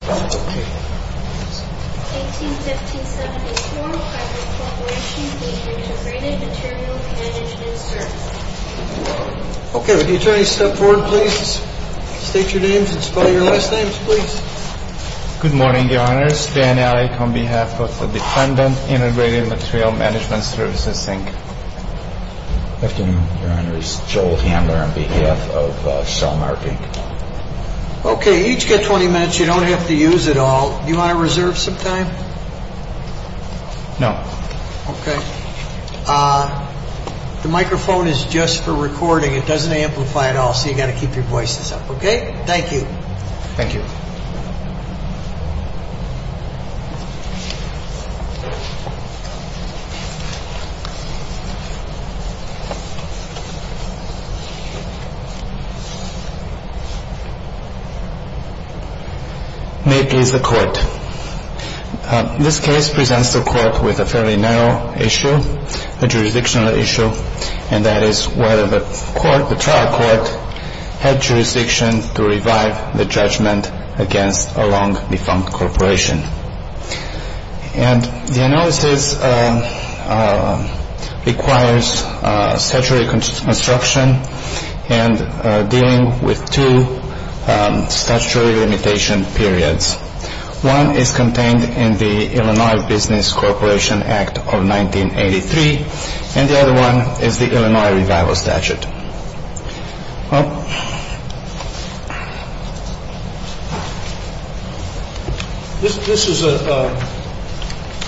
1815-74, Fiber Corp. v. Integrated Material Management Services Okay, would each attorney step forward, please? State your names and spell your last names, please. Good morning, Your Honors. Dan Alec on behalf of the Defendant, Integrated Material Management Services, Inc. Good afternoon, Your Honors. Joel Hamler on behalf of Shell Marketing. Okay, each get 20 minutes. You don't have to use it all. Do you want to reserve some time? No. Okay. The microphone is just for recording. It doesn't amplify at all, so you've got to keep your voices up. Okay? Thank you. Thank you. May it please the Court. This case presents the Court with a fairly narrow issue, a jurisdictional issue, and that is whether the trial court had jurisdiction to revive the judgment against a long-defunct corporation. And the analysis requires statutory construction and dealing with two statutory limitation periods. One is contained in the Illinois Business Corporation Act of 1983, and the other one is the Illinois revival statute. This is,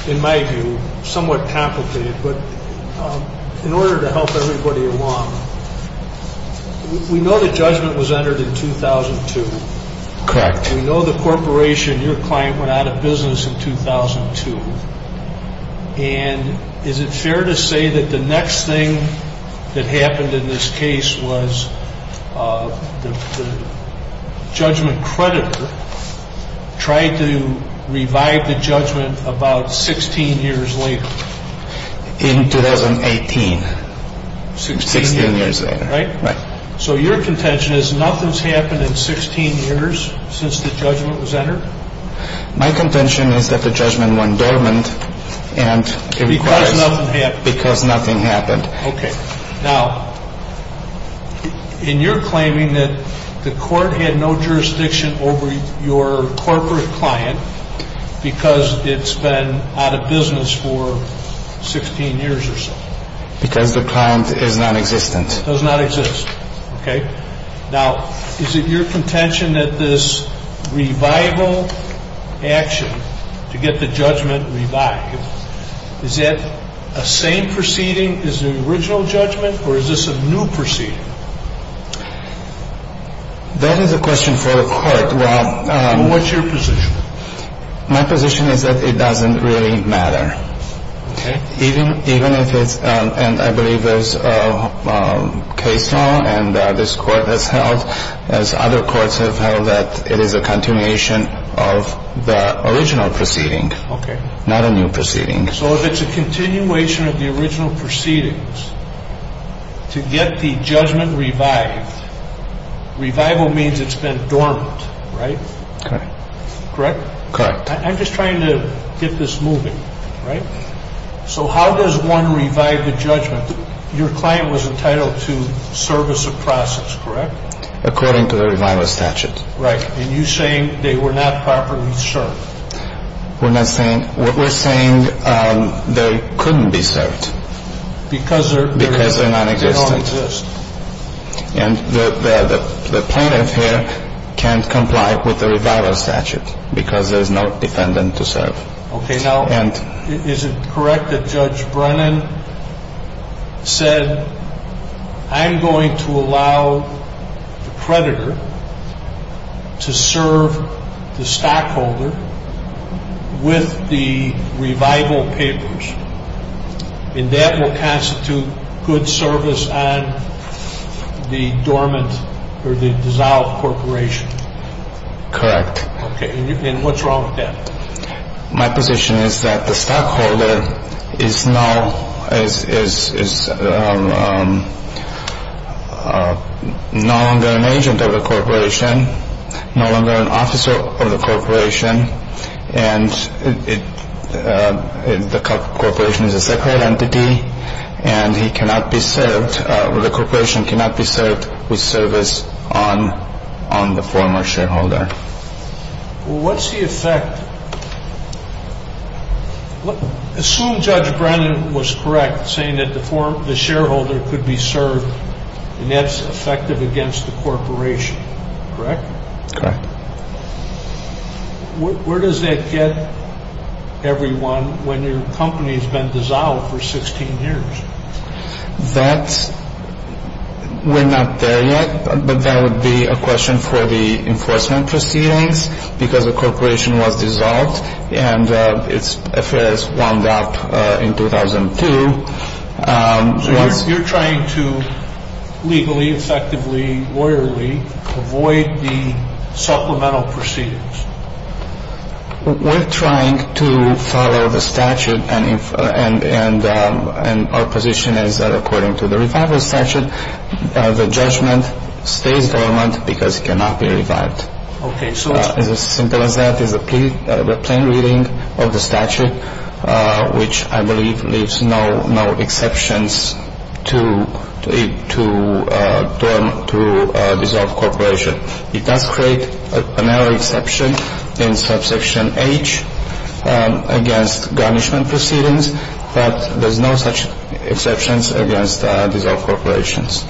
in my view, somewhat complicated, but in order to help everybody along, we know the judgment was entered in 2002. Correct. We know the corporation, your client, went out of business in 2002. And is it fair to say that the next thing that happened in this case was the judgment creditor tried to revive the judgment about 16 years later? In 2018. 16 years later, right? Right. So your contention is nothing's happened in 16 years since the judgment was entered? My contention is that the judgment went dormant, and it requires... Because nothing happened. Because nothing happened. Okay. Now, in your claiming that the Court had no jurisdiction over your corporate client because it's been out of business for 16 years or so. Because the client is nonexistent. Does not exist. Okay? Now, is it your contention that this revival action to get the judgment revived, is that a same proceeding as the original judgment, or is this a new proceeding? That is a question for the Court. What's your position? My position is that it doesn't really matter. Okay. Even if it's... And I believe there's a case now, and this Court has held, as other courts have held, that it is a continuation of the original proceeding. Okay. Not a new proceeding. So if it's a continuation of the original proceedings, to get the judgment revived, revival means it's been dormant, right? Correct. Correct? Correct. I'm just trying to get this moving, right? So how does one revive the judgment? Your client was entitled to service of process, correct? According to the revival statute. Right. And you're saying they were not properly served. We're not saying... What we're saying, they couldn't be served. Because they're... Because they're nonexistent. They don't exist. And the plaintiff here can't comply with the revival statute because there's no defendant to serve. Okay. Now, is it correct that Judge Brennan said, I'm going to allow the predator to serve the stockholder with the revival papers, and that will constitute good service on the dormant or the dissolved corporation? Correct. Okay. And what's wrong with that? My position is that the stockholder is no longer an agent of the corporation, no longer an officer of the corporation, and the corporation is a separate entity, and he cannot be served, or the corporation cannot be served with service on the former shareholder. Well, what's the effect? Assume Judge Brennan was correct, saying that the shareholder could be served, and that's effective against the corporation, correct? Correct. Where does that get everyone when your company has been dissolved for 16 years? We're not there yet, but that would be a question for the enforcement proceedings, because the corporation was dissolved and its affairs wound up in 2002. So you're trying to legally, effectively, lawyerly avoid the supplemental proceedings? We're trying to follow the statute, and our position is that according to the revival statute, the judgment stays dormant because it cannot be revived. Okay. It's as simple as that. It's a plain reading of the statute, which I believe leaves no exceptions to dissolve corporation. It does create a narrow exception in Subsection H against garnishment proceedings, but there's no such exceptions against dissolved corporations.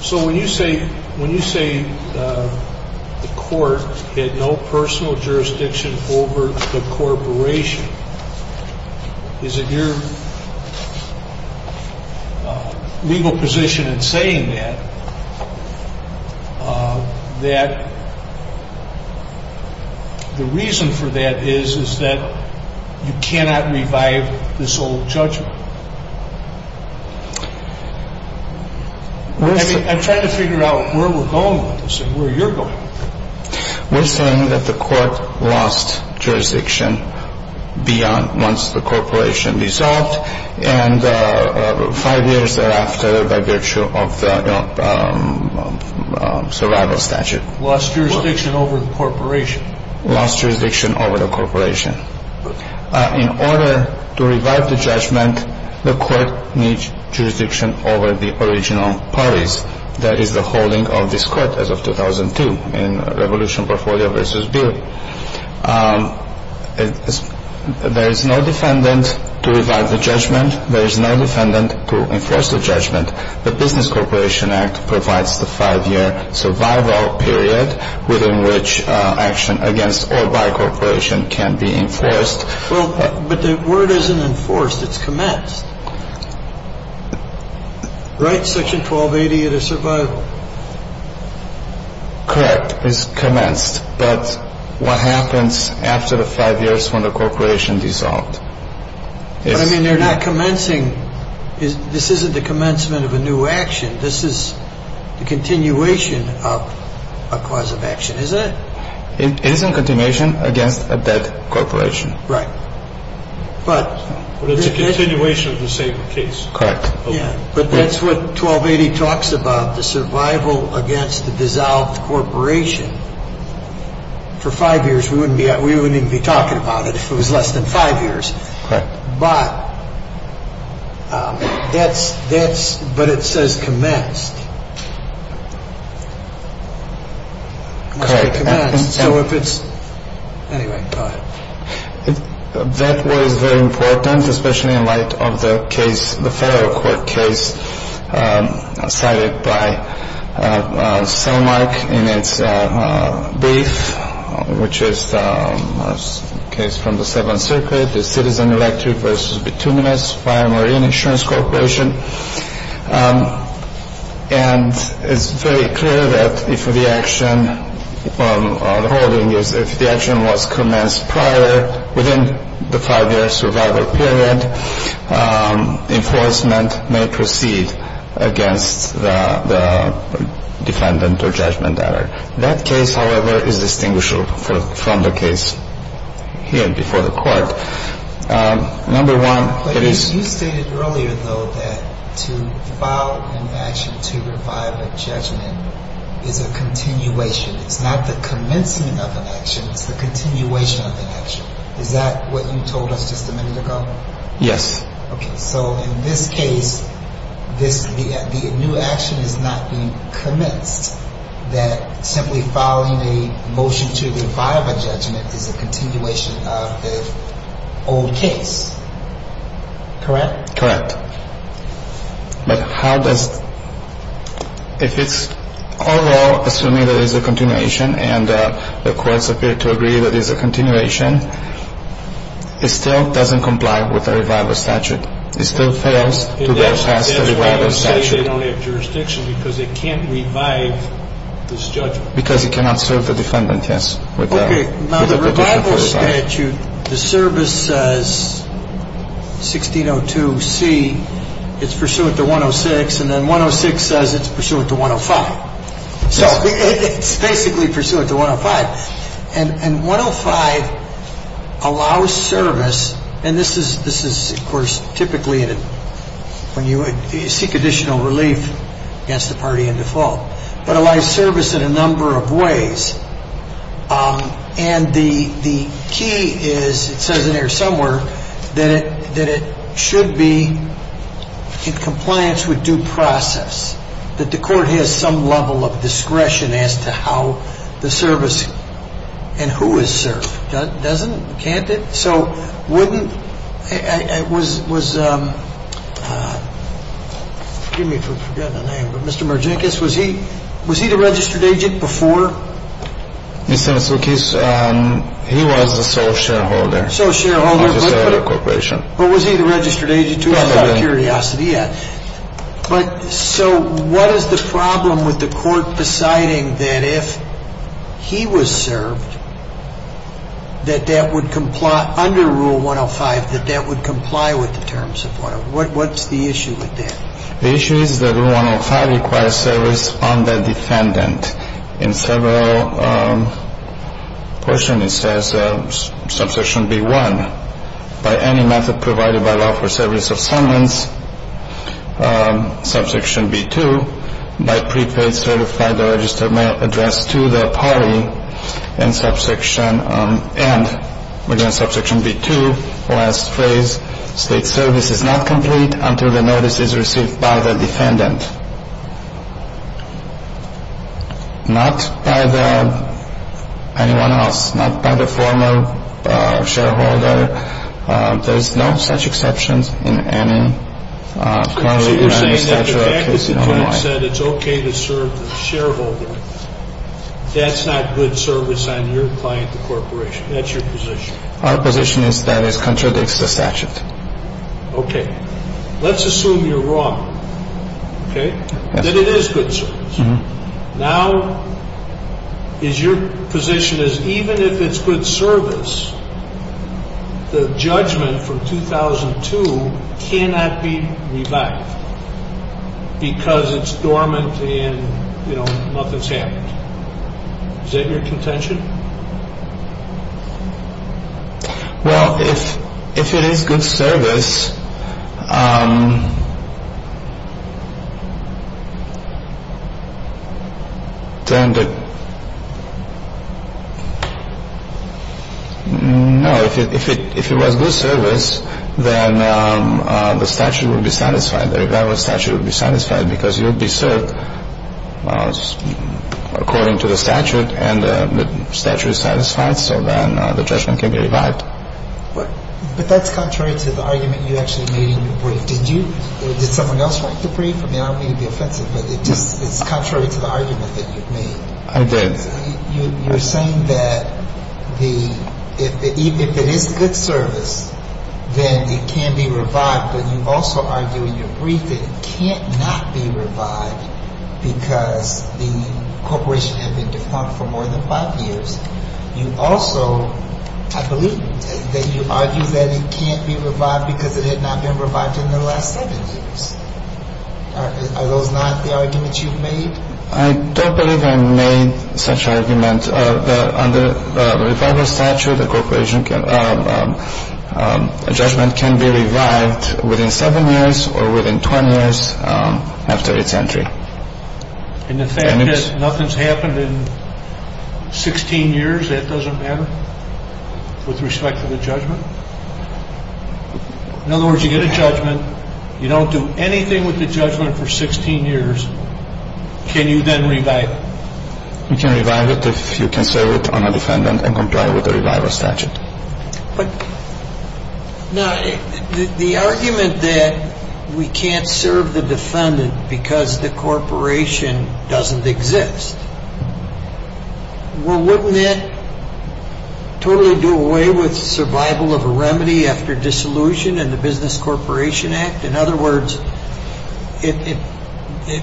So when you say the court had no personal jurisdiction over the corporation, is it your legal position in saying that, that the reason for that is, is that you cannot revive this old judgment? I'm trying to figure out where we're going with this and where you're going. We're saying that the court lost jurisdiction beyond once the corporation dissolved and five years thereafter by virtue of the survival statute. Lost jurisdiction over the corporation? Lost jurisdiction over the corporation. In order to revive the judgment, the court needs jurisdiction over the original parties. That is the holding of this court as of 2002 in Revolution Portfolio v. Bealy. There is no defendant to revive the judgment. There is no defendant to enforce the judgment. The Business Corporation Act provides the five-year survival period within which action against or by a corporation can be enforced. Well, but the word isn't enforced. It's commenced. Right, Section 1280 of the survival? Correct. It's commenced. But what happens after the five years when the corporation dissolved? But, I mean, they're not commencing. This isn't the commencement of a new action. This is the continuation of a cause of action, isn't it? It is a continuation against a dead corporation. Right. But it's a continuation of the same case. Correct. But that's what 1280 talks about, the survival against the dissolved corporation. For five years, we wouldn't even be talking about it if it was less than five years. Correct. But it says commenced. It must be commenced. Anyway, go ahead. That was very important, especially in light of the case, the federal court case cited by Selmark in its brief, which is a case from the Seventh Circuit, the Citizen Electric v. Bituminous by a marine insurance corporation. And it's very clear that if the action was commenced prior, within the five-year survival period, enforcement may proceed against the defendant or judgment. That case, however, is distinguishable from the case here before the court. You stated earlier, though, that to file an action to revive a judgment is a continuation. It's not the commencing of an action. It's the continuation of an action. Is that what you told us just a minute ago? Yes. Okay. So in this case, the new action is not being commenced. That simply filing a motion to revive a judgment is a continuation of the old case. Correct? Correct. But how does – if it's all law, assuming there is a continuation, and the courts appear to agree there is a continuation, it still doesn't comply with the revival statute. It still fails to go past the revival statute. They don't have jurisdiction because it can't revive this judgment. Because it cannot serve the defendant, yes. Okay. Now, the revival statute, the service says 1602C, it's pursuant to 106, and then 106 says it's pursuant to 105. So it's basically pursuant to 105. And 105 allows service, and this is, of course, typically when you seek additional relief against the party in default, but allows service in a number of ways. And the key is, it says in there somewhere, that it should be in compliance with due process, that the court has some level of discretion as to how the service and who is served. Doesn't it? Can't it? So wouldn't – was – forgive me for forgetting the name, but Mr. Merzinkus, was he the registered agent before? Mr. Matsoukis, he was the sole shareholder. Sole shareholder, but was he the registered agent, too? Just out of curiosity, yes. But so what is the problem with the court deciding that if he was served, that that would comply under Rule 105, that that would comply with the terms of what? What's the issue with that? The issue is that Rule 105 requires service on the defendant. In several portions it says, Subsection B1, by any method provided by law for service of summons, Subsection B2, by prepaid certified or registered mail address to the party, and subsection – and, again, Subsection B2, last phrase, state service is not complete until the notice is received by the defendant. Not by the – anyone else. Not by the former shareholder. There's no such exceptions in any statute. So you're saying that the fact that the judge said it's okay to serve the shareholder, that's not good service on your client, the corporation. That's your position. Our position is that it contradicts the statute. Okay. Let's assume you're wrong, okay, that it is good service. Now is your position is even if it's good service, the judgment from 2002 cannot be revived because it's dormant and, you know, nothing's happened. Is that your contention? Well, if it is good service, then the – no, if it was good service, then the statute would be satisfied. The revival statute would be satisfied because you would be served according to the statute and the statute is satisfied, so then the judgment can be revived. But that's contrary to the argument you actually made in your brief. Did you – did someone else write the brief? I mean, I don't mean to be offensive, but it's contrary to the argument that you've made. I did. You're saying that the – if it is good service, then it can be revived, but you also argue in your brief that it can't not be revived because the corporation had been defunct for more than five years. You also – I believe that you argue that it can't be revived because it had not been revived in the last seven years. Are those not the arguments you've made? I don't believe I made such arguments. The fact is that under the revival statute, the corporation can – a judgment can be revived within seven years or within 20 years after its entry. And the fact that nothing's happened in 16 years, that doesn't matter with respect to the judgment? In other words, you get a judgment. You don't do anything with the judgment for 16 years. Can you then revive it? You can revive it if you can serve it on a defendant and comply with the revival statute. Now, the argument that we can't serve the defendant because the corporation doesn't exist, well, wouldn't that totally do away with survival of a remedy after dissolution in the Business Corporation Act? In other words,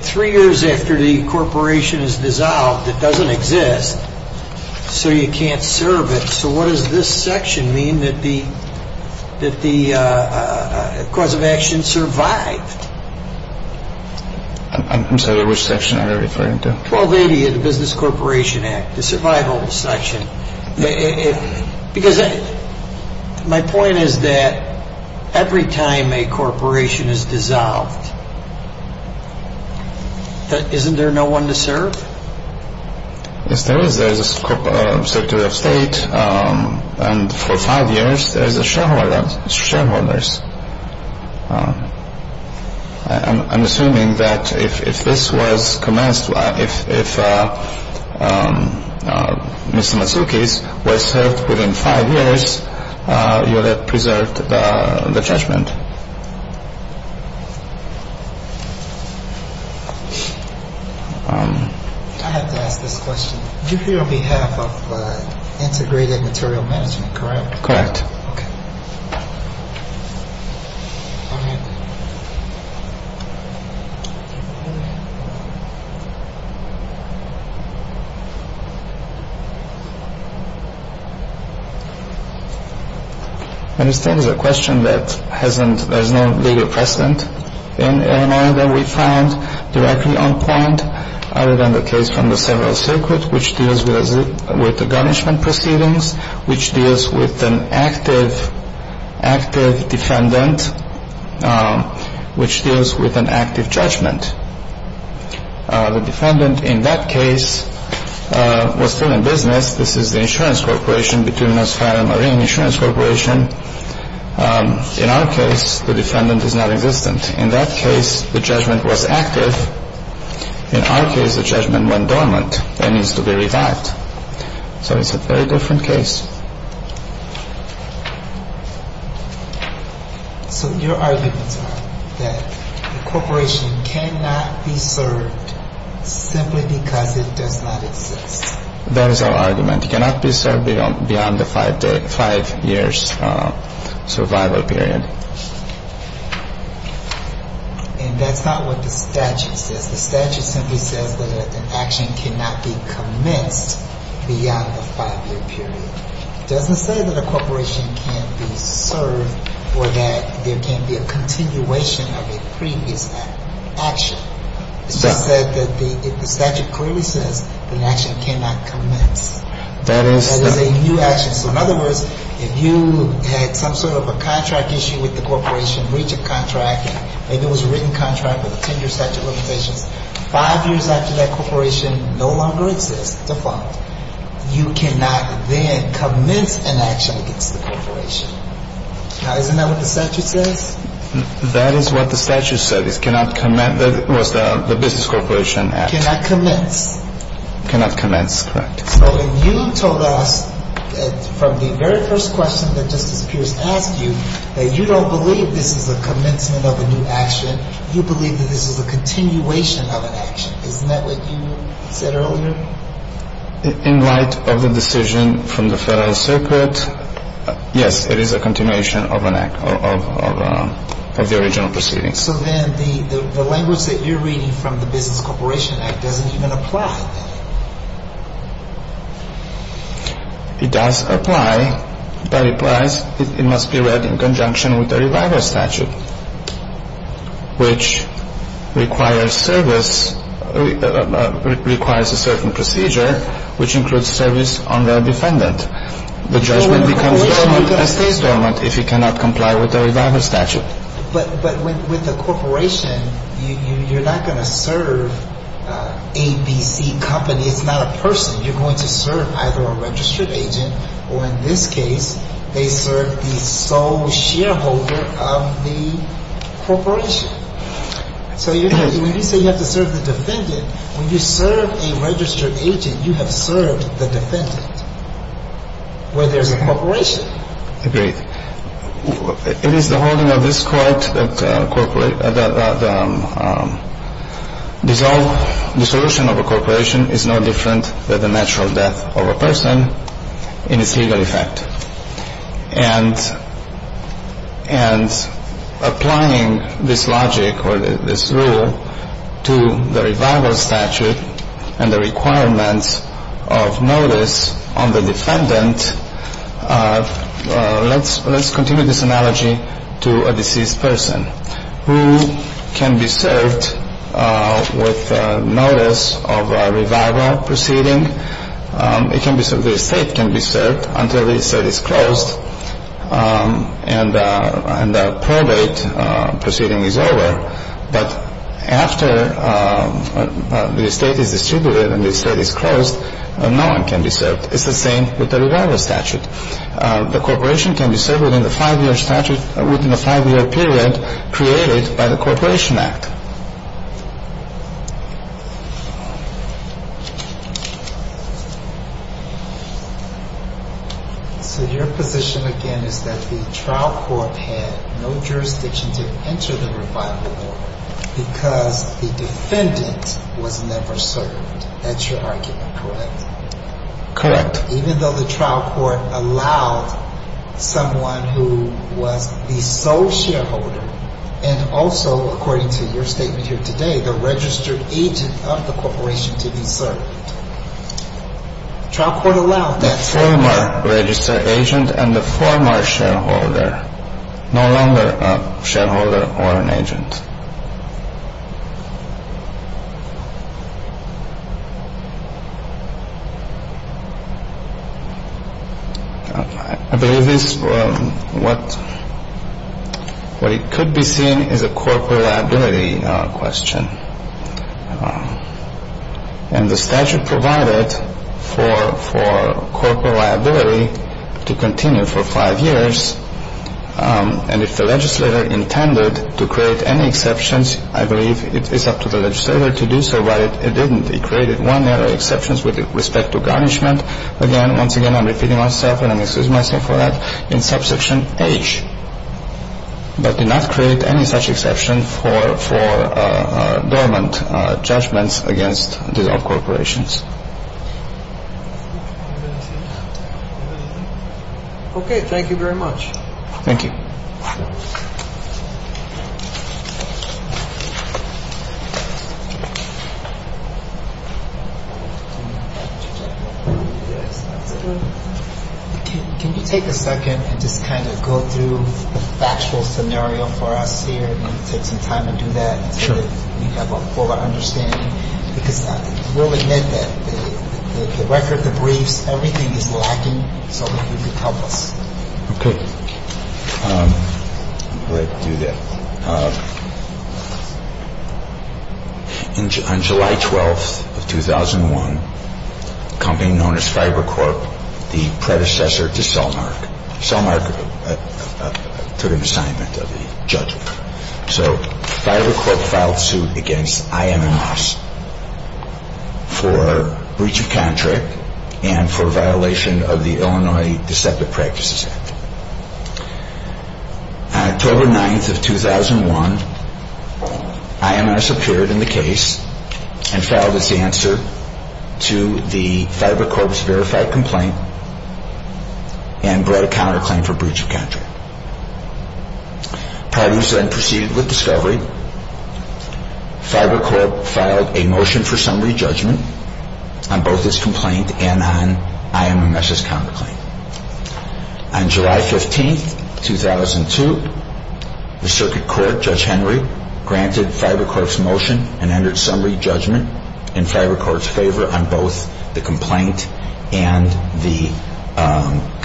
three years after the corporation is dissolved, it doesn't exist, so you can't serve it. So what does this section mean that the cause of action survived? I'm sorry, which section are you referring to? 1280 of the Business Corporation Act, the survival section. Because my point is that every time a corporation is dissolved, isn't there no one to serve? Yes, there is. There's a Secretary of State, and for five years there's shareholders. I'm assuming that if this was commenced, if Mr. Matsoukis was served within five years, you would have preserved the judgment. I have to ask this question. You're here on behalf of Integrated Material Management, correct? Correct. Okay. All right. I understand there's a question that there's no legal precedent in MI that we found directly on point other than the case from the Civil Circuit, which deals with the garnishment proceedings, which deals with an active defendant, which deals with an active judgment. The defendant, in that case, was still in business. This is the insurance corporation, the Criminal Asylum Marine Insurance Corporation. In our case, the defendant is nonexistent. In that case, the judgment was active. In our case, the judgment went dormant and needs to be revived. So it's a very different case. So your arguments are that the corporation cannot be served simply because it does not exist. That is our argument. It cannot be served beyond the five-year survival period. And that's not what the statute says. The statute simply says that an action cannot be commenced beyond the five-year period. It doesn't say that a corporation can't be served or that there can't be a continuation of a previous action. It just said that the statute clearly says an action cannot commence. That is a new action. So in other words, if you had some sort of a contract issue with the corporation, and there was a written contract with a 10-year statute of limitations, five years after that corporation no longer exists, it's a fault, you cannot then commence an action against the corporation. Now, isn't that what the statute says? That is what the statute said. It cannot commence. That was the business corporation act. It cannot commence. It cannot commence. Correct. So if you told us from the very first question that Justice Pierce asked you that you don't believe this is a commencement of a new action, you believe that this is a continuation of an action, isn't that what you said earlier? In light of the decision from the Federal Circuit, yes, it is a continuation of an act, of the original proceedings. So then the language that you're reading from the business corporation act doesn't even apply. It does apply. That implies it must be read in conjunction with the reviver statute, which requires service, requires a certain procedure, which includes service on the defendant. The judgment becomes dormant and stays dormant if it cannot comply with the reviver statute. But with the corporation, you're not going to serve A, B, C company. It's not a person. You're going to serve either a registered agent or, in this case, they serve the sole shareholder of the corporation. So when you say you have to serve the defendant, when you serve a registered agent, you have served the defendant where there's a corporation. Agreed. It is the holding of this Court that the dissolution of a corporation is no different than the natural death of a person in its legal effect. And applying this logic or this rule to the reviver statute and the requirements of notice on the defendant, let's continue this analogy to a deceased person who can be served with notice of a reviver proceeding. The estate can be served until the estate is closed and the probate proceeding is over. But after the estate is distributed and the estate is closed, no one can be served. And the corporation can be served within the five-year period created by the corporation act. But it's the same with the reviver statute. The corporation can be served within the five-year statute, within the five-year period created by the corporation act. So your position, again, is that the trial court had no jurisdiction to enter the revival order because the defendant was never served. That's your argument, correct? Correct. Even though the trial court allowed someone who was the sole shareholder and also, according to your statement, the registered agent of the corporation to be served. The trial court allowed that. The former registered agent and the former shareholder. No longer a shareholder or an agent. I believe this, what it could be seen as a corporate liability question. And the statute provided for corporate liability to continue for five years. And if the legislator intended to create any exceptions, I believe it's up to the legislator to do so. But it didn't. It created one narrow exception with respect to garnishment. Again, once again, I'm repeating myself, and I'm excusing myself for that, in subsection H. But did not create any such exception for dormant judgments against these corporations. Okay. Thank you very much. Thank you. Can you take a second and just kind of go through the factual scenario for us here and take some time to do that? Sure. We have a full understanding, because we'll admit that the record, the briefs, everything is lacking. So if you could help us. Okay. Let's do that. On July 12th of 2001, a company known as Fiber Corp, the predecessor to Cellmark. Cellmark took an assignment of the judgment. So Fiber Corp filed suit against I.M.M.S. for breach of contract and for violation of the Illinois Deceptive Practices Act. On October 9th of 2001, I.M.M.S. appeared in the case and filed its answer to the Fiber Corp's verified complaint and brought a counterclaim for breach of contract. Parties then proceeded with discovery. Fiber Corp filed a motion for summary judgment on both its complaint and on I.M.M.S.'s counterclaim. On July 15th, 2002, the circuit court, Judge Henry, granted Fiber Corp's motion and entered summary judgment in Fiber Corp's favor on both the complaint and the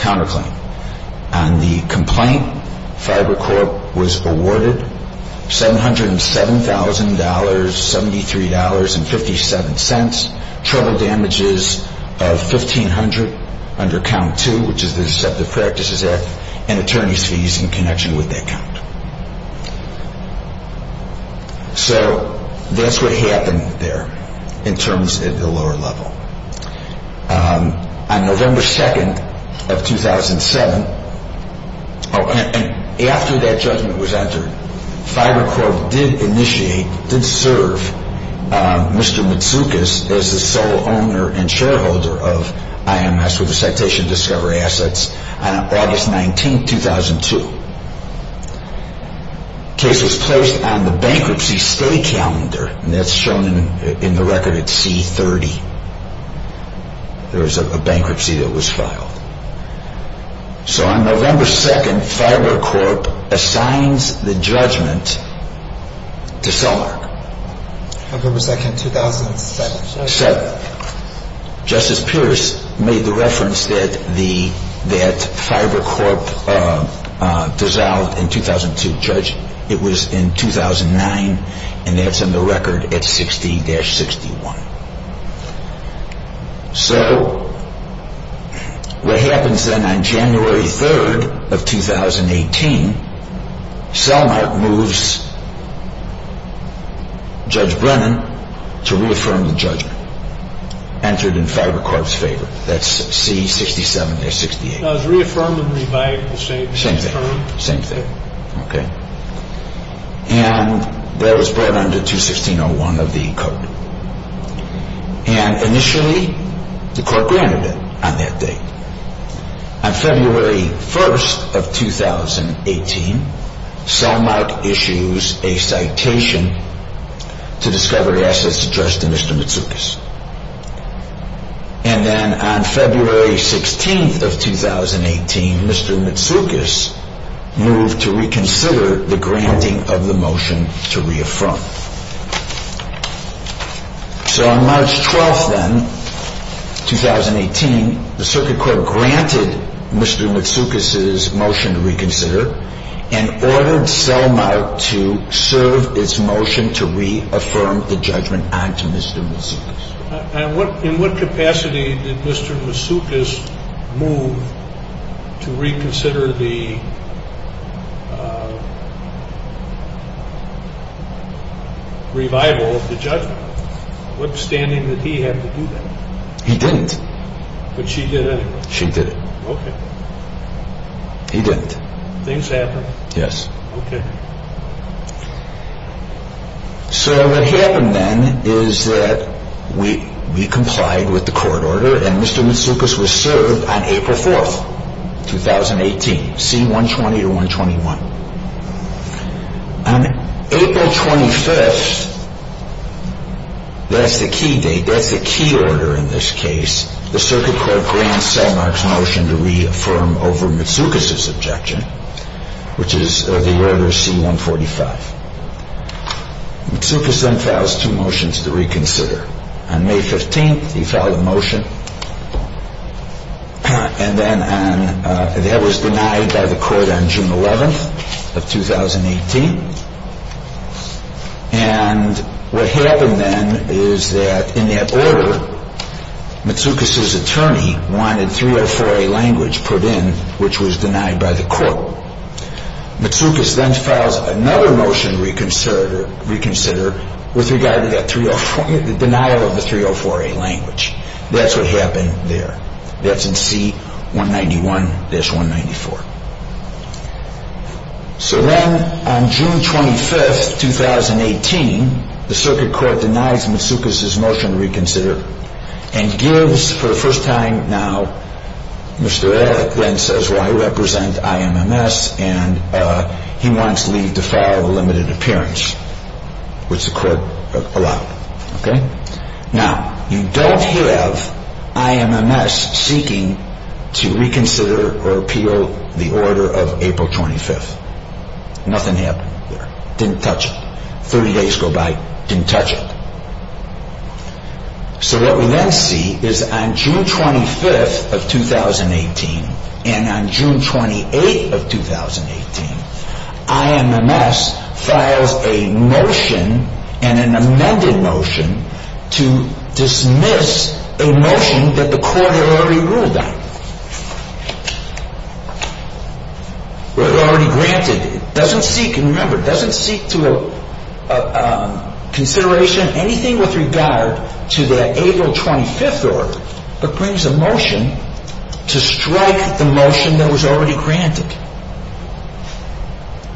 counterclaim. On the complaint, Fiber Corp was awarded $707,073.57, trouble damages of $1,500 under Count II, which is the Deceptive Practices Act, and attorney's fees in connection with that count. So that's what happened there in terms of the lower level. On November 2nd of 2007, and after that judgment was entered, Fiber Corp did initiate, did serve Mr. Matsoukas as the sole owner and shareholder of I.M.M.S. with the Citation of Discovery Assets on August 19th, 2002. The case was placed on the bankruptcy stay calendar, and that's shown in the record at C-30. There was a bankruptcy that was filed. So on November 2nd, Fiber Corp assigns the judgment to Cellmark. November 2nd, 2007. Justice Pierce made the reference that Fiber Corp dissolved in 2002. Judge, it was in 2009, and that's in the record at 60-61. So what happens then on January 3rd of 2018, Cellmark moves Judge Brennan to reaffirm the judgment entered in Fiber Corp's favor. That's C-67-68. I was reaffirming and revising the same thing. Same thing. Okay. And that was brought under 216-01 of the code. And initially, the court granted it on that date. On February 1st of 2018, Cellmark issues a citation to Discovery Assets addressed to Mr. Matsoukas. And then on February 16th of 2018, Mr. Matsoukas moved to reconsider the granting of the motion to reaffirm. So on March 12th then, 2018, the circuit court granted Mr. Matsoukas' motion to reconsider and ordered Cellmark to serve its motion to reaffirm the judgment on to Mr. Matsoukas. In what capacity did Mr. Matsoukas move to reconsider the revival of the judgment? Withstanding that he had to do that. He didn't. But she did anyway. She did. Okay. He didn't. Things happen. Yes. Okay. So what happened then is that we complied with the court order and Mr. Matsoukas was served on April 4th, 2018, C-120-121. On April 25th, that's the key date, that's the key order in this case, the circuit court grants Cellmark's motion to reaffirm over Matsoukas' objection, which is the order C-145. Matsoukas then files two motions to reconsider. On May 15th, he filed a motion. And then that was denied by the court on June 11th of 2018. And what happened then is that in that order, Matsoukas' attorney wanted 304A language put in, which was denied by the court. Matsoukas then files another motion to reconsider with regard to the denial of the 304A language. That's what happened there. That's in C-191-194. So then on June 25th, 2018, the circuit court denies Matsoukas' motion to reconsider and gives, for the first time now, Mr. Edick then says, well, I represent IMMS and he wants to leave the file of a limited appearance, which the court allowed. Now, you don't have IMMS seeking to reconsider or appeal the order of April 25th. Nothing happened there. Didn't touch it. 30 days go by, didn't touch it. So what we then see is on June 25th of 2018 and on June 28th of 2018, IMMS files a motion and an amended motion to dismiss a motion that the court had already ruled on. It was already granted. It doesn't seek, and remember, it doesn't seek to consider anything with regard to that April 25th order, but brings a motion to strike the motion that was already granted.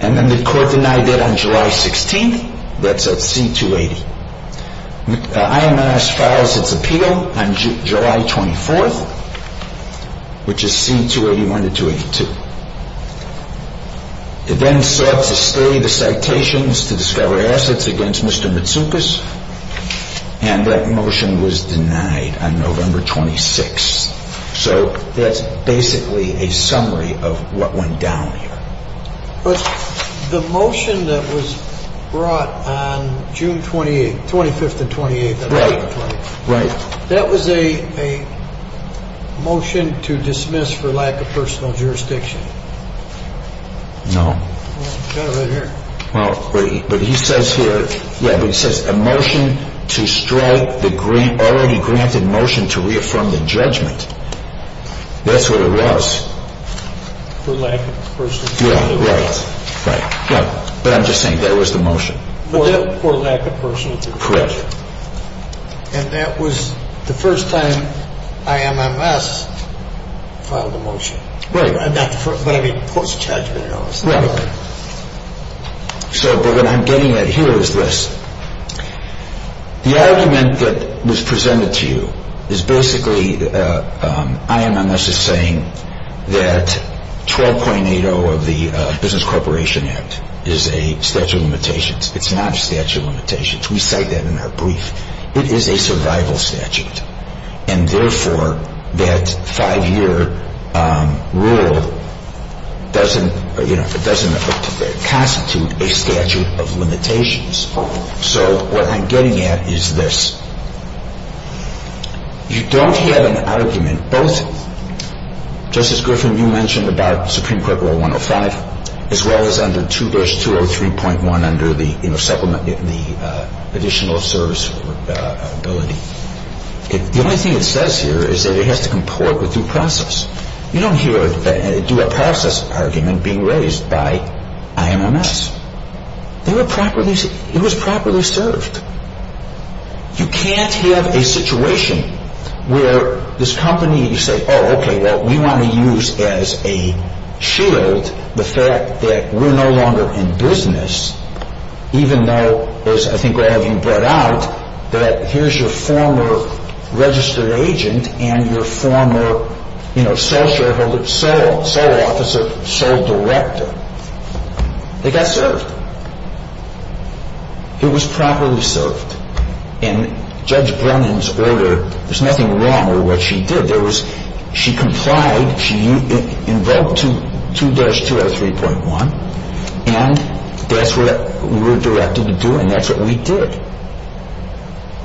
And then the court denied that on July 16th. That's at C-280. IMMS files its appeal on July 24th, which is C-281 to 282. It then sought to stay the citations to discover assets against Mr. Matsoukas, and that motion was denied on November 26th. So that's basically a summary of what went down here. But the motion that was brought on June 28th, 25th and 28th, that was a motion to dismiss for lack of personal jurisdiction. No. Well, but he says here, yeah, but he says a motion to strike the already granted motion to reaffirm the judgment. That's what it was. Yeah, right. But I'm just saying that was the motion. For lack of personal jurisdiction. Correct. And that was the first time IMMS filed a motion. Right. But I mean, post-judgment. Right. So, but what I'm getting at here is this. The argument that was presented to you is basically IMMS is saying that 12.80 of the Business Corporation Act is a statute of limitations. It's not a statute of limitations. We cite that in our brief. It is a survival statute. And therefore, that five-year rule doesn't constitute a statute of limitations. So, what I'm getting at is this. You don't have an argument, both, Justice Griffin, you mentioned about Supreme Court Rule 105, as well as under 2 verse 203.1 under the, you know, supplement, the additional service ability. The only thing it says here is that it has to comport with due process. You don't hear a due process argument being raised by IMMS. They were properly, it was properly served. You can't have a situation where this company, you say, oh, okay, well, we want to use as a shield the fact that we're no longer in business, even though, as I think all of you brought out, that here's your former registered agent and your former, you know, sole shareholder, sole officer, sole director. They got served. It was properly served. And Judge Brennan's order, there's nothing wrong with what she did. There was, she complied, she invoked 2-203.1, and that's what we were directed to do, and that's what we did.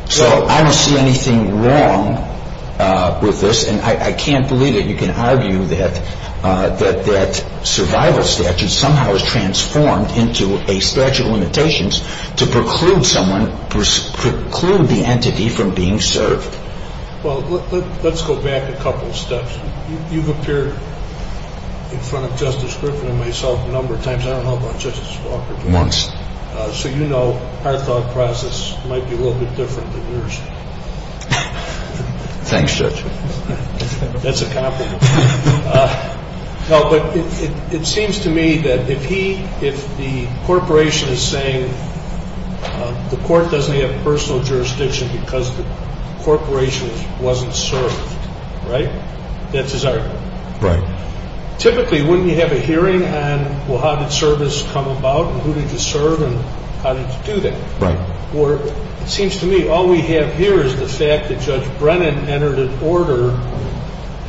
So, I don't see anything wrong with this. And I can't believe that you can argue that that survival statute somehow is transformed into a statute of limitations to preclude someone, preclude the entity from being served. Well, let's go back a couple steps. You've appeared in front of Justice Griffin and myself a number of times. I don't know about Justice Walker. Once. So you know our thought process might be a little bit different than yours. Thanks, Judge. That's a compliment. No, but it seems to me that if he, if the corporation is saying the court doesn't have personal jurisdiction because the corporation wasn't served, right? That's his argument. Right. Typically, wouldn't you have a hearing on, well, how did service come about and who did you serve and how did you do that? Right. Well, it seems to me all we have here is the fact that Judge Brennan entered an order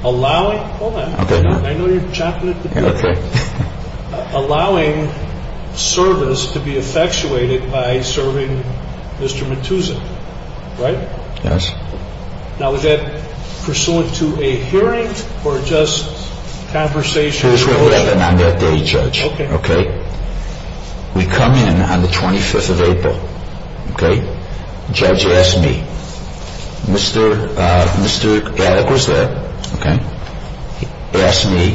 allowing, hold on. Okay. I know you're chomping at the door. Okay. Allowing service to be effectuated by serving Mr. Matusan, right? Yes. Now, was that pursuant to a hearing or just conversation? It was 11 on that day, Judge. Okay. We come in on the 25th of April. Okay. Judge asked me. Mr. Alec was there. Okay. He asked me,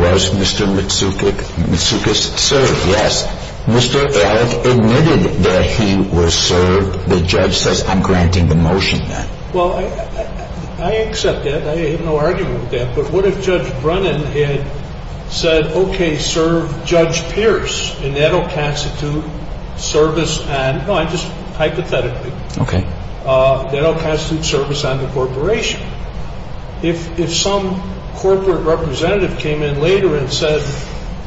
was Mr. Matsoukas served? Yes. Mr. Alec admitted that he was served. The judge says I'm granting the motion then. Well, I accept that. I have no argument with that. But what if Judge Brennan had said, okay, serve Judge Pierce and that will constitute service on, no, just hypothetically. Okay. That will constitute service on the corporation. If some corporate representative came in later and said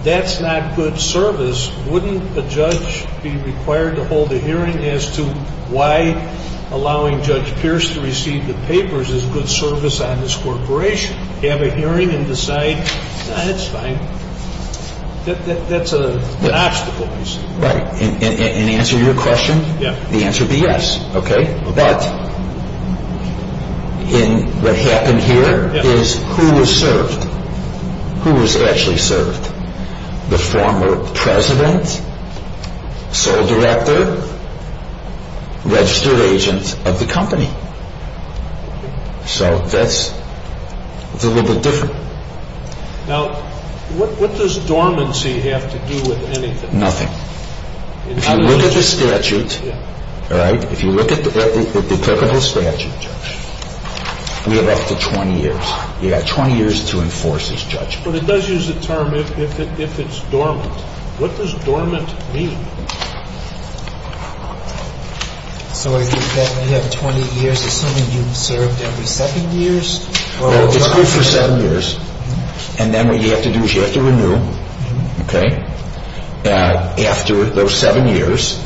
that's not good service, wouldn't a judge be required to hold a hearing as to why allowing Judge Pierce to receive the papers is good service on this corporation? Have a hearing and decide that's fine. That's an obstacle, you see. Right. And answer your question, the answer would be yes. Okay. But what happened here is who was served? Who was actually served? The former president, sole director, registered agent of the company. So that's a little bit different. Now, what does dormancy have to do with anything? Nothing. If you look at the statute, all right, if you look at the applicable statute, we have up to 20 years. You've got 20 years to enforce as judge. But it does use the term if it's dormant. What does dormant mean? So you have 20 years assuming you've served every seven years? It's good for seven years. And then what you have to do is you have to renew, okay, after those seven years.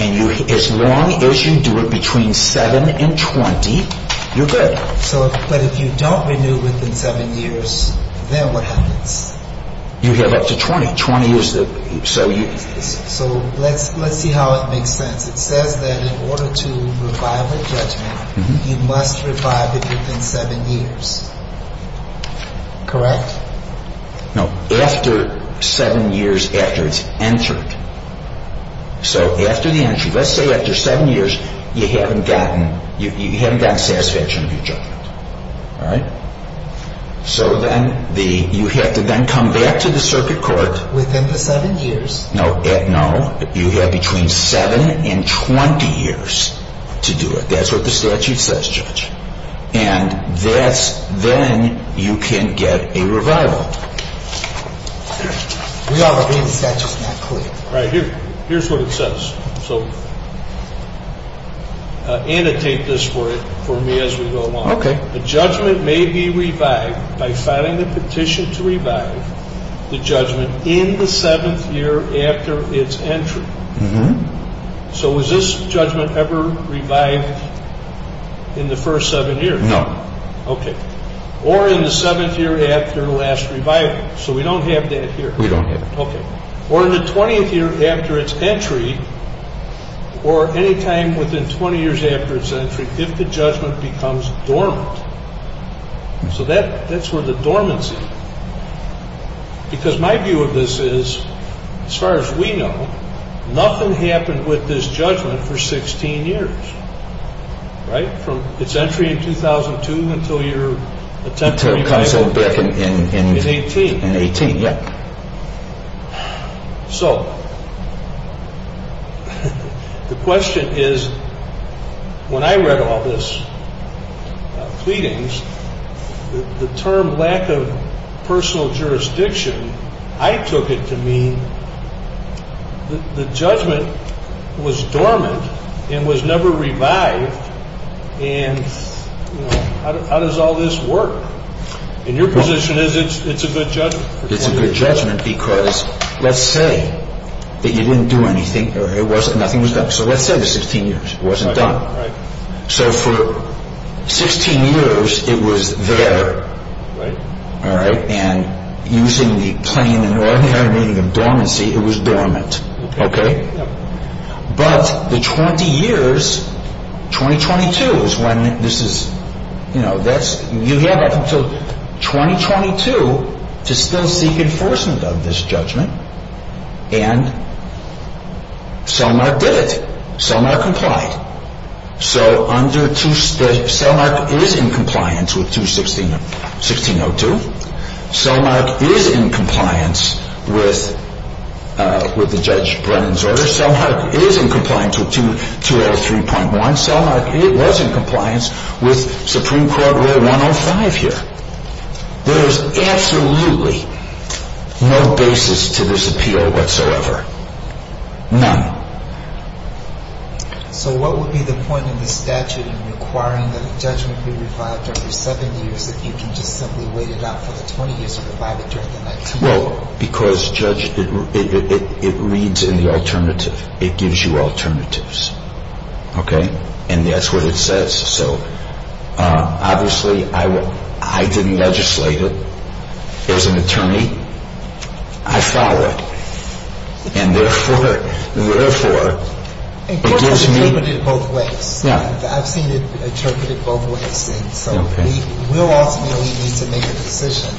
And as long as you do it between 7 and 20, you're good. So, but if you don't renew within seven years, then what happens? You have up to 20. 20 is the, so you. So let's see how it makes sense. It says that in order to revive a judgment, you must revive it within seven years. Correct? No, after seven years after it's entered. So after the entry, let's say after seven years, you haven't gotten, you haven't gotten satisfaction of your judgment. All right? So then the, you have to then come back to the circuit court. Within the seven years. No, no, you have between 7 and 20 years to do it. That's what the statute says, judge. And that's, then you can get a revival. We all agree the statute is not clear. Right here. Here's what it says. So annotate this for me as we go along. Okay. A judgment may be revived by filing a petition to revive the judgment in the seventh year after its entry. So was this judgment ever revived in the first seven years? No. Okay. Or in the seventh year after the last revival. So we don't have that here. We don't have that. Okay. Or in the 20th year after its entry, or any time within 20 years after its entry, if the judgment becomes dormant. So that's where the dormancy. Because my view of this is, as far as we know, nothing happened with this judgment for 16 years. Right? From its entry in 2002 until your attempt to revive it. Until it comes back in 18. In 18, yeah. So the question is, when I read all this pleadings, the term lack of personal jurisdiction, I took it to mean the judgment was dormant and was never revived, and how does all this work? And your position is it's a good judgment. It's a good judgment because let's say that you didn't do anything, or nothing was done. So let's say for 16 years it wasn't done. Right. So for 16 years it was there. Right. All right. And using the plain and ordinary meaning of dormancy, it was dormant. Okay. Yep. But the 20 years, 2022 is when this is, you know, you have up until 2022 to still seek enforcement of this judgment. And Selmark did it. Selmark complied. So Selmark is in compliance with 216.02. Selmark is in compliance with the Judge Brennan's order. Selmark is in compliance with 203.1. Selmark was in compliance with Supreme Court Rule 105 here. There is absolutely no basis to this appeal whatsoever. None. So what would be the point in the statute in requiring that a judgment be revived every seven years if you can just simply wait it out for the 20 years to revive it during the 19 years? Well, because, Judge, it reads in the alternative. It gives you alternatives. Okay. And that's what it says. So obviously I didn't legislate it. As an attorney, I followed. And therefore, it gives me... The court has interpreted it both ways. Yeah. I've seen it interpreted both ways. So we will ultimately need to make a decision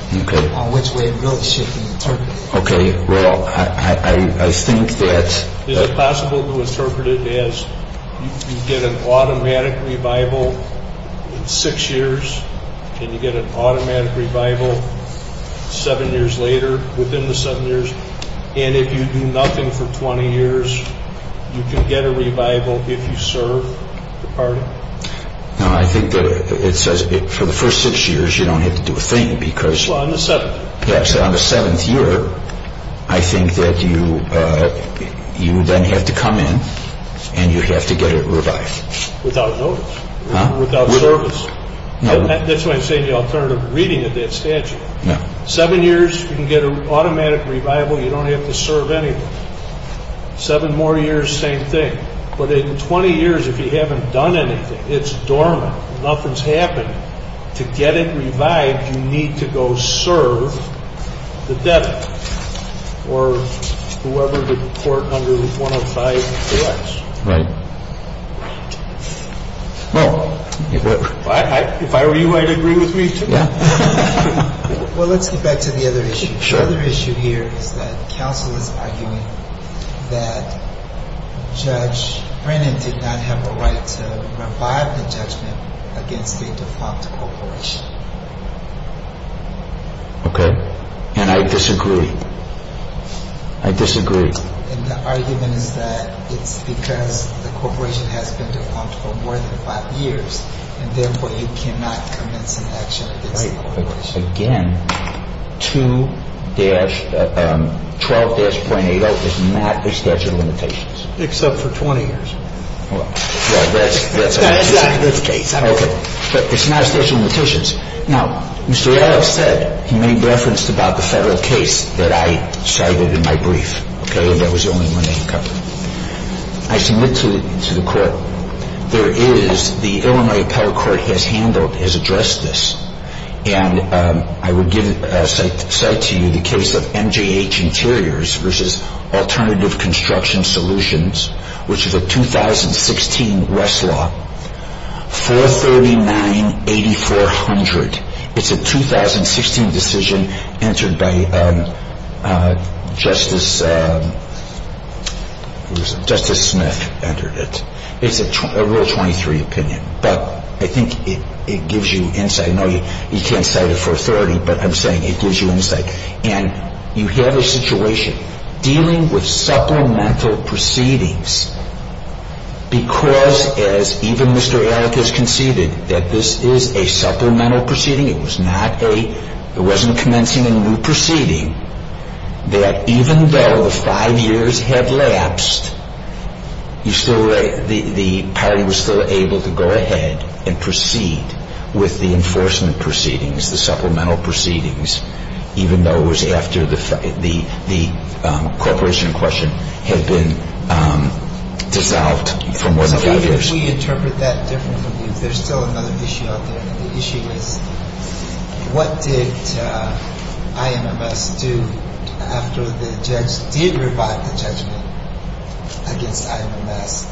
on which way it really should be interpreted. Okay. Well, I think that... Is it possible to interpret it as you get an automatic revival in six years and you get an automatic revival seven years later, within the seven years, and if you do nothing for 20 years, you can get a revival if you serve the party? No, I think that it says for the first six years you don't have to do a thing because... Well, on the seventh. Yes. On the seventh year, I think that you then have to come in and you have to get it revived. Without notice. Huh? Without service. No. That's why I'm saying the alternative reading of that statute. No. Seven years, you can get an automatic revival. You don't have to serve anyone. Seven more years, same thing. But in 20 years, if you haven't done anything, it's dormant, nothing's happened. To get it revived, you need to go serve the debtor or whoever the court under 105 directs. Right. Right. Well, if I were you, I'd agree with me, too. Yeah. Well, let's get back to the other issue. Sure. The other issue here is that counsel is arguing that Judge Brennan did not have a right to revive the judgment against a defunct corporation. Okay. And I disagree. I disagree. And the argument is that it's because the corporation has been defunct for more than five years, and therefore you cannot commence an action against the corporation. Okay. Okay. Okay. And I disagree. And I disagree. If I'm going to have to give you a little bit of background, I'm going to have to give you a little bit of background. Because again, to dash, 12-.80 is not a statute of limitations. Except for 20 years. Well, that's a consecutive case. Okay. But it's not a statute of limitations. Now, Mr. Adams said, he made reference about the federal case that I cited in my brief. Okay. And that was the only one that he covered. I submit to the court, there is, the Illinois Appellate Court has handled, has addressed this. And I would cite to you the case of MGH Interiors versus Alternative Construction Solutions, which is a 2016 Westlaw. 439-8400. It's a 2016 decision entered by Justice Smith. It's a Rule 23 opinion. But I think it gives you insight. I know you can't cite it for authority, but I'm saying it gives you insight. And you have a situation dealing with supplemental proceedings because, as even Mr. Alec has conceded, that this is a supplemental proceeding. It was not a, it wasn't commencing a new proceeding. That even though the five years had lapsed, you still, the party was still able to go ahead and proceed with the enforcement proceedings, the supplemental proceedings, even though it was after the corporation in question had been dissolved from within five years. Can we interpret that differently? There's still another issue out there, and the issue is, what did IMMS do after the judge did revive the judgment against IMMS?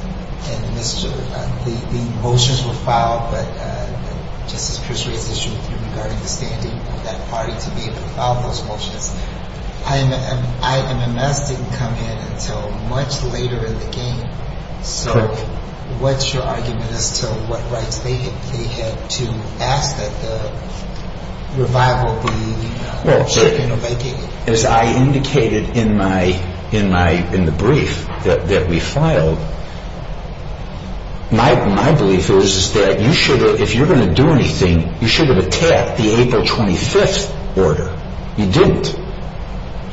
And the motions were filed, but Justice Crisray's issue with you regarding the standing of that party to be able to file those motions. IMMS didn't come in until much later in the game. So what's your argument as to what rights they had to ask that the revival be taken or vacated? As I indicated in the brief that we filed, my belief is that you should have, if you're going to do anything, you should have attacked the April 25th order. You didn't.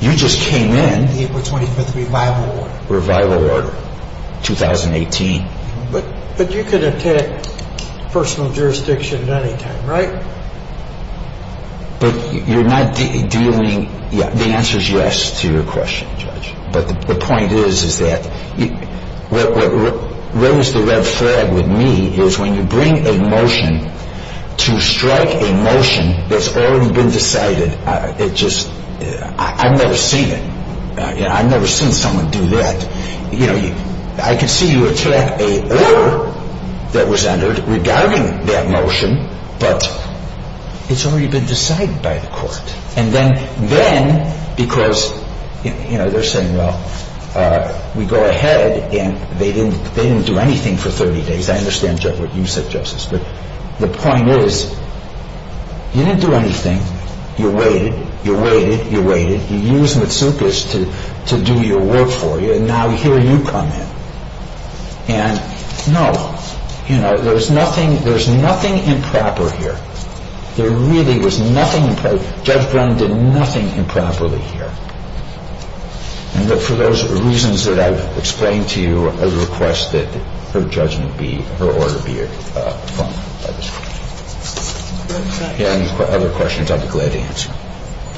You just came in. The April 25th revival order. Revival order, 2018. But you could attack personal jurisdiction at any time, right? But you're not dealing, the answer's yes to your question, Judge. But the point is, is that what rose the red flag with me is when you bring a motion to strike a motion that's already been decided, it just, I've never seen it. I've never seen someone do that. You know, I could see you attack a order that was entered regarding that motion, but it's already been decided by the court. And then, because, you know, they're saying, well, we go ahead and they didn't do anything for 30 days. I understand what you said, Justice. But the point is, you didn't do anything. You waited. You waited. You waited. You used Matsoukas to do your work for you, and now here you come in. And, no, you know, there's nothing improper here. There really was nothing improper. Judge Brown did nothing improperly here. And for those reasons that I've explained to you, I request that her judgment be, her order be affirmed by this court. If you have any other questions, I'd be glad to answer.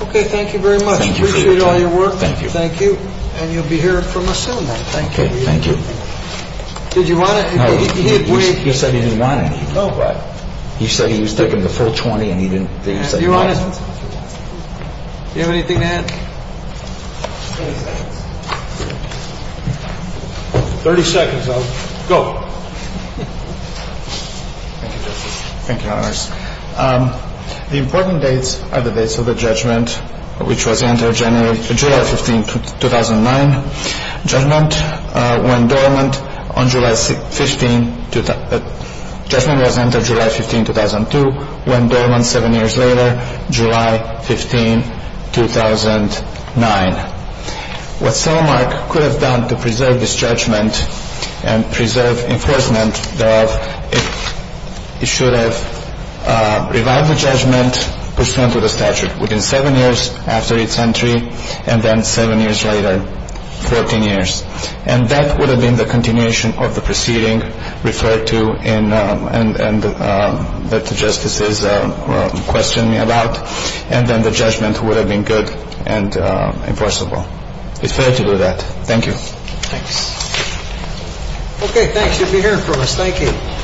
Okay. Thank you very much. Appreciate all your work. Thank you. Thank you. And you'll be hearing from us soon, then. Thank you. Thank you. Did you want to? No. He said he didn't want any. He said he was taking the full 20 and he didn't. Do you have anything to add? 30 seconds. Go. Thank you, Justice. Thank you, Honors. The important dates are the dates of the judgment, which was entered July 15, 2009. Judgment went dormant on July 15. Judgment was entered July 15, 2002, went dormant seven years later, July 15, 2009. What Solomark could have done to preserve this judgment and preserve enforcement thereof, it should have revived the judgment pursuant to the statute within seven years after its entry, and then seven years later, 14 years. And that would have been the continuation of the proceeding referred to and that the Justices questioned me about, and then the judgment would have been good and enforceable. It's fair to do that. Thank you. Thanks. Okay, thanks. You'll be hearing from us. Thank you.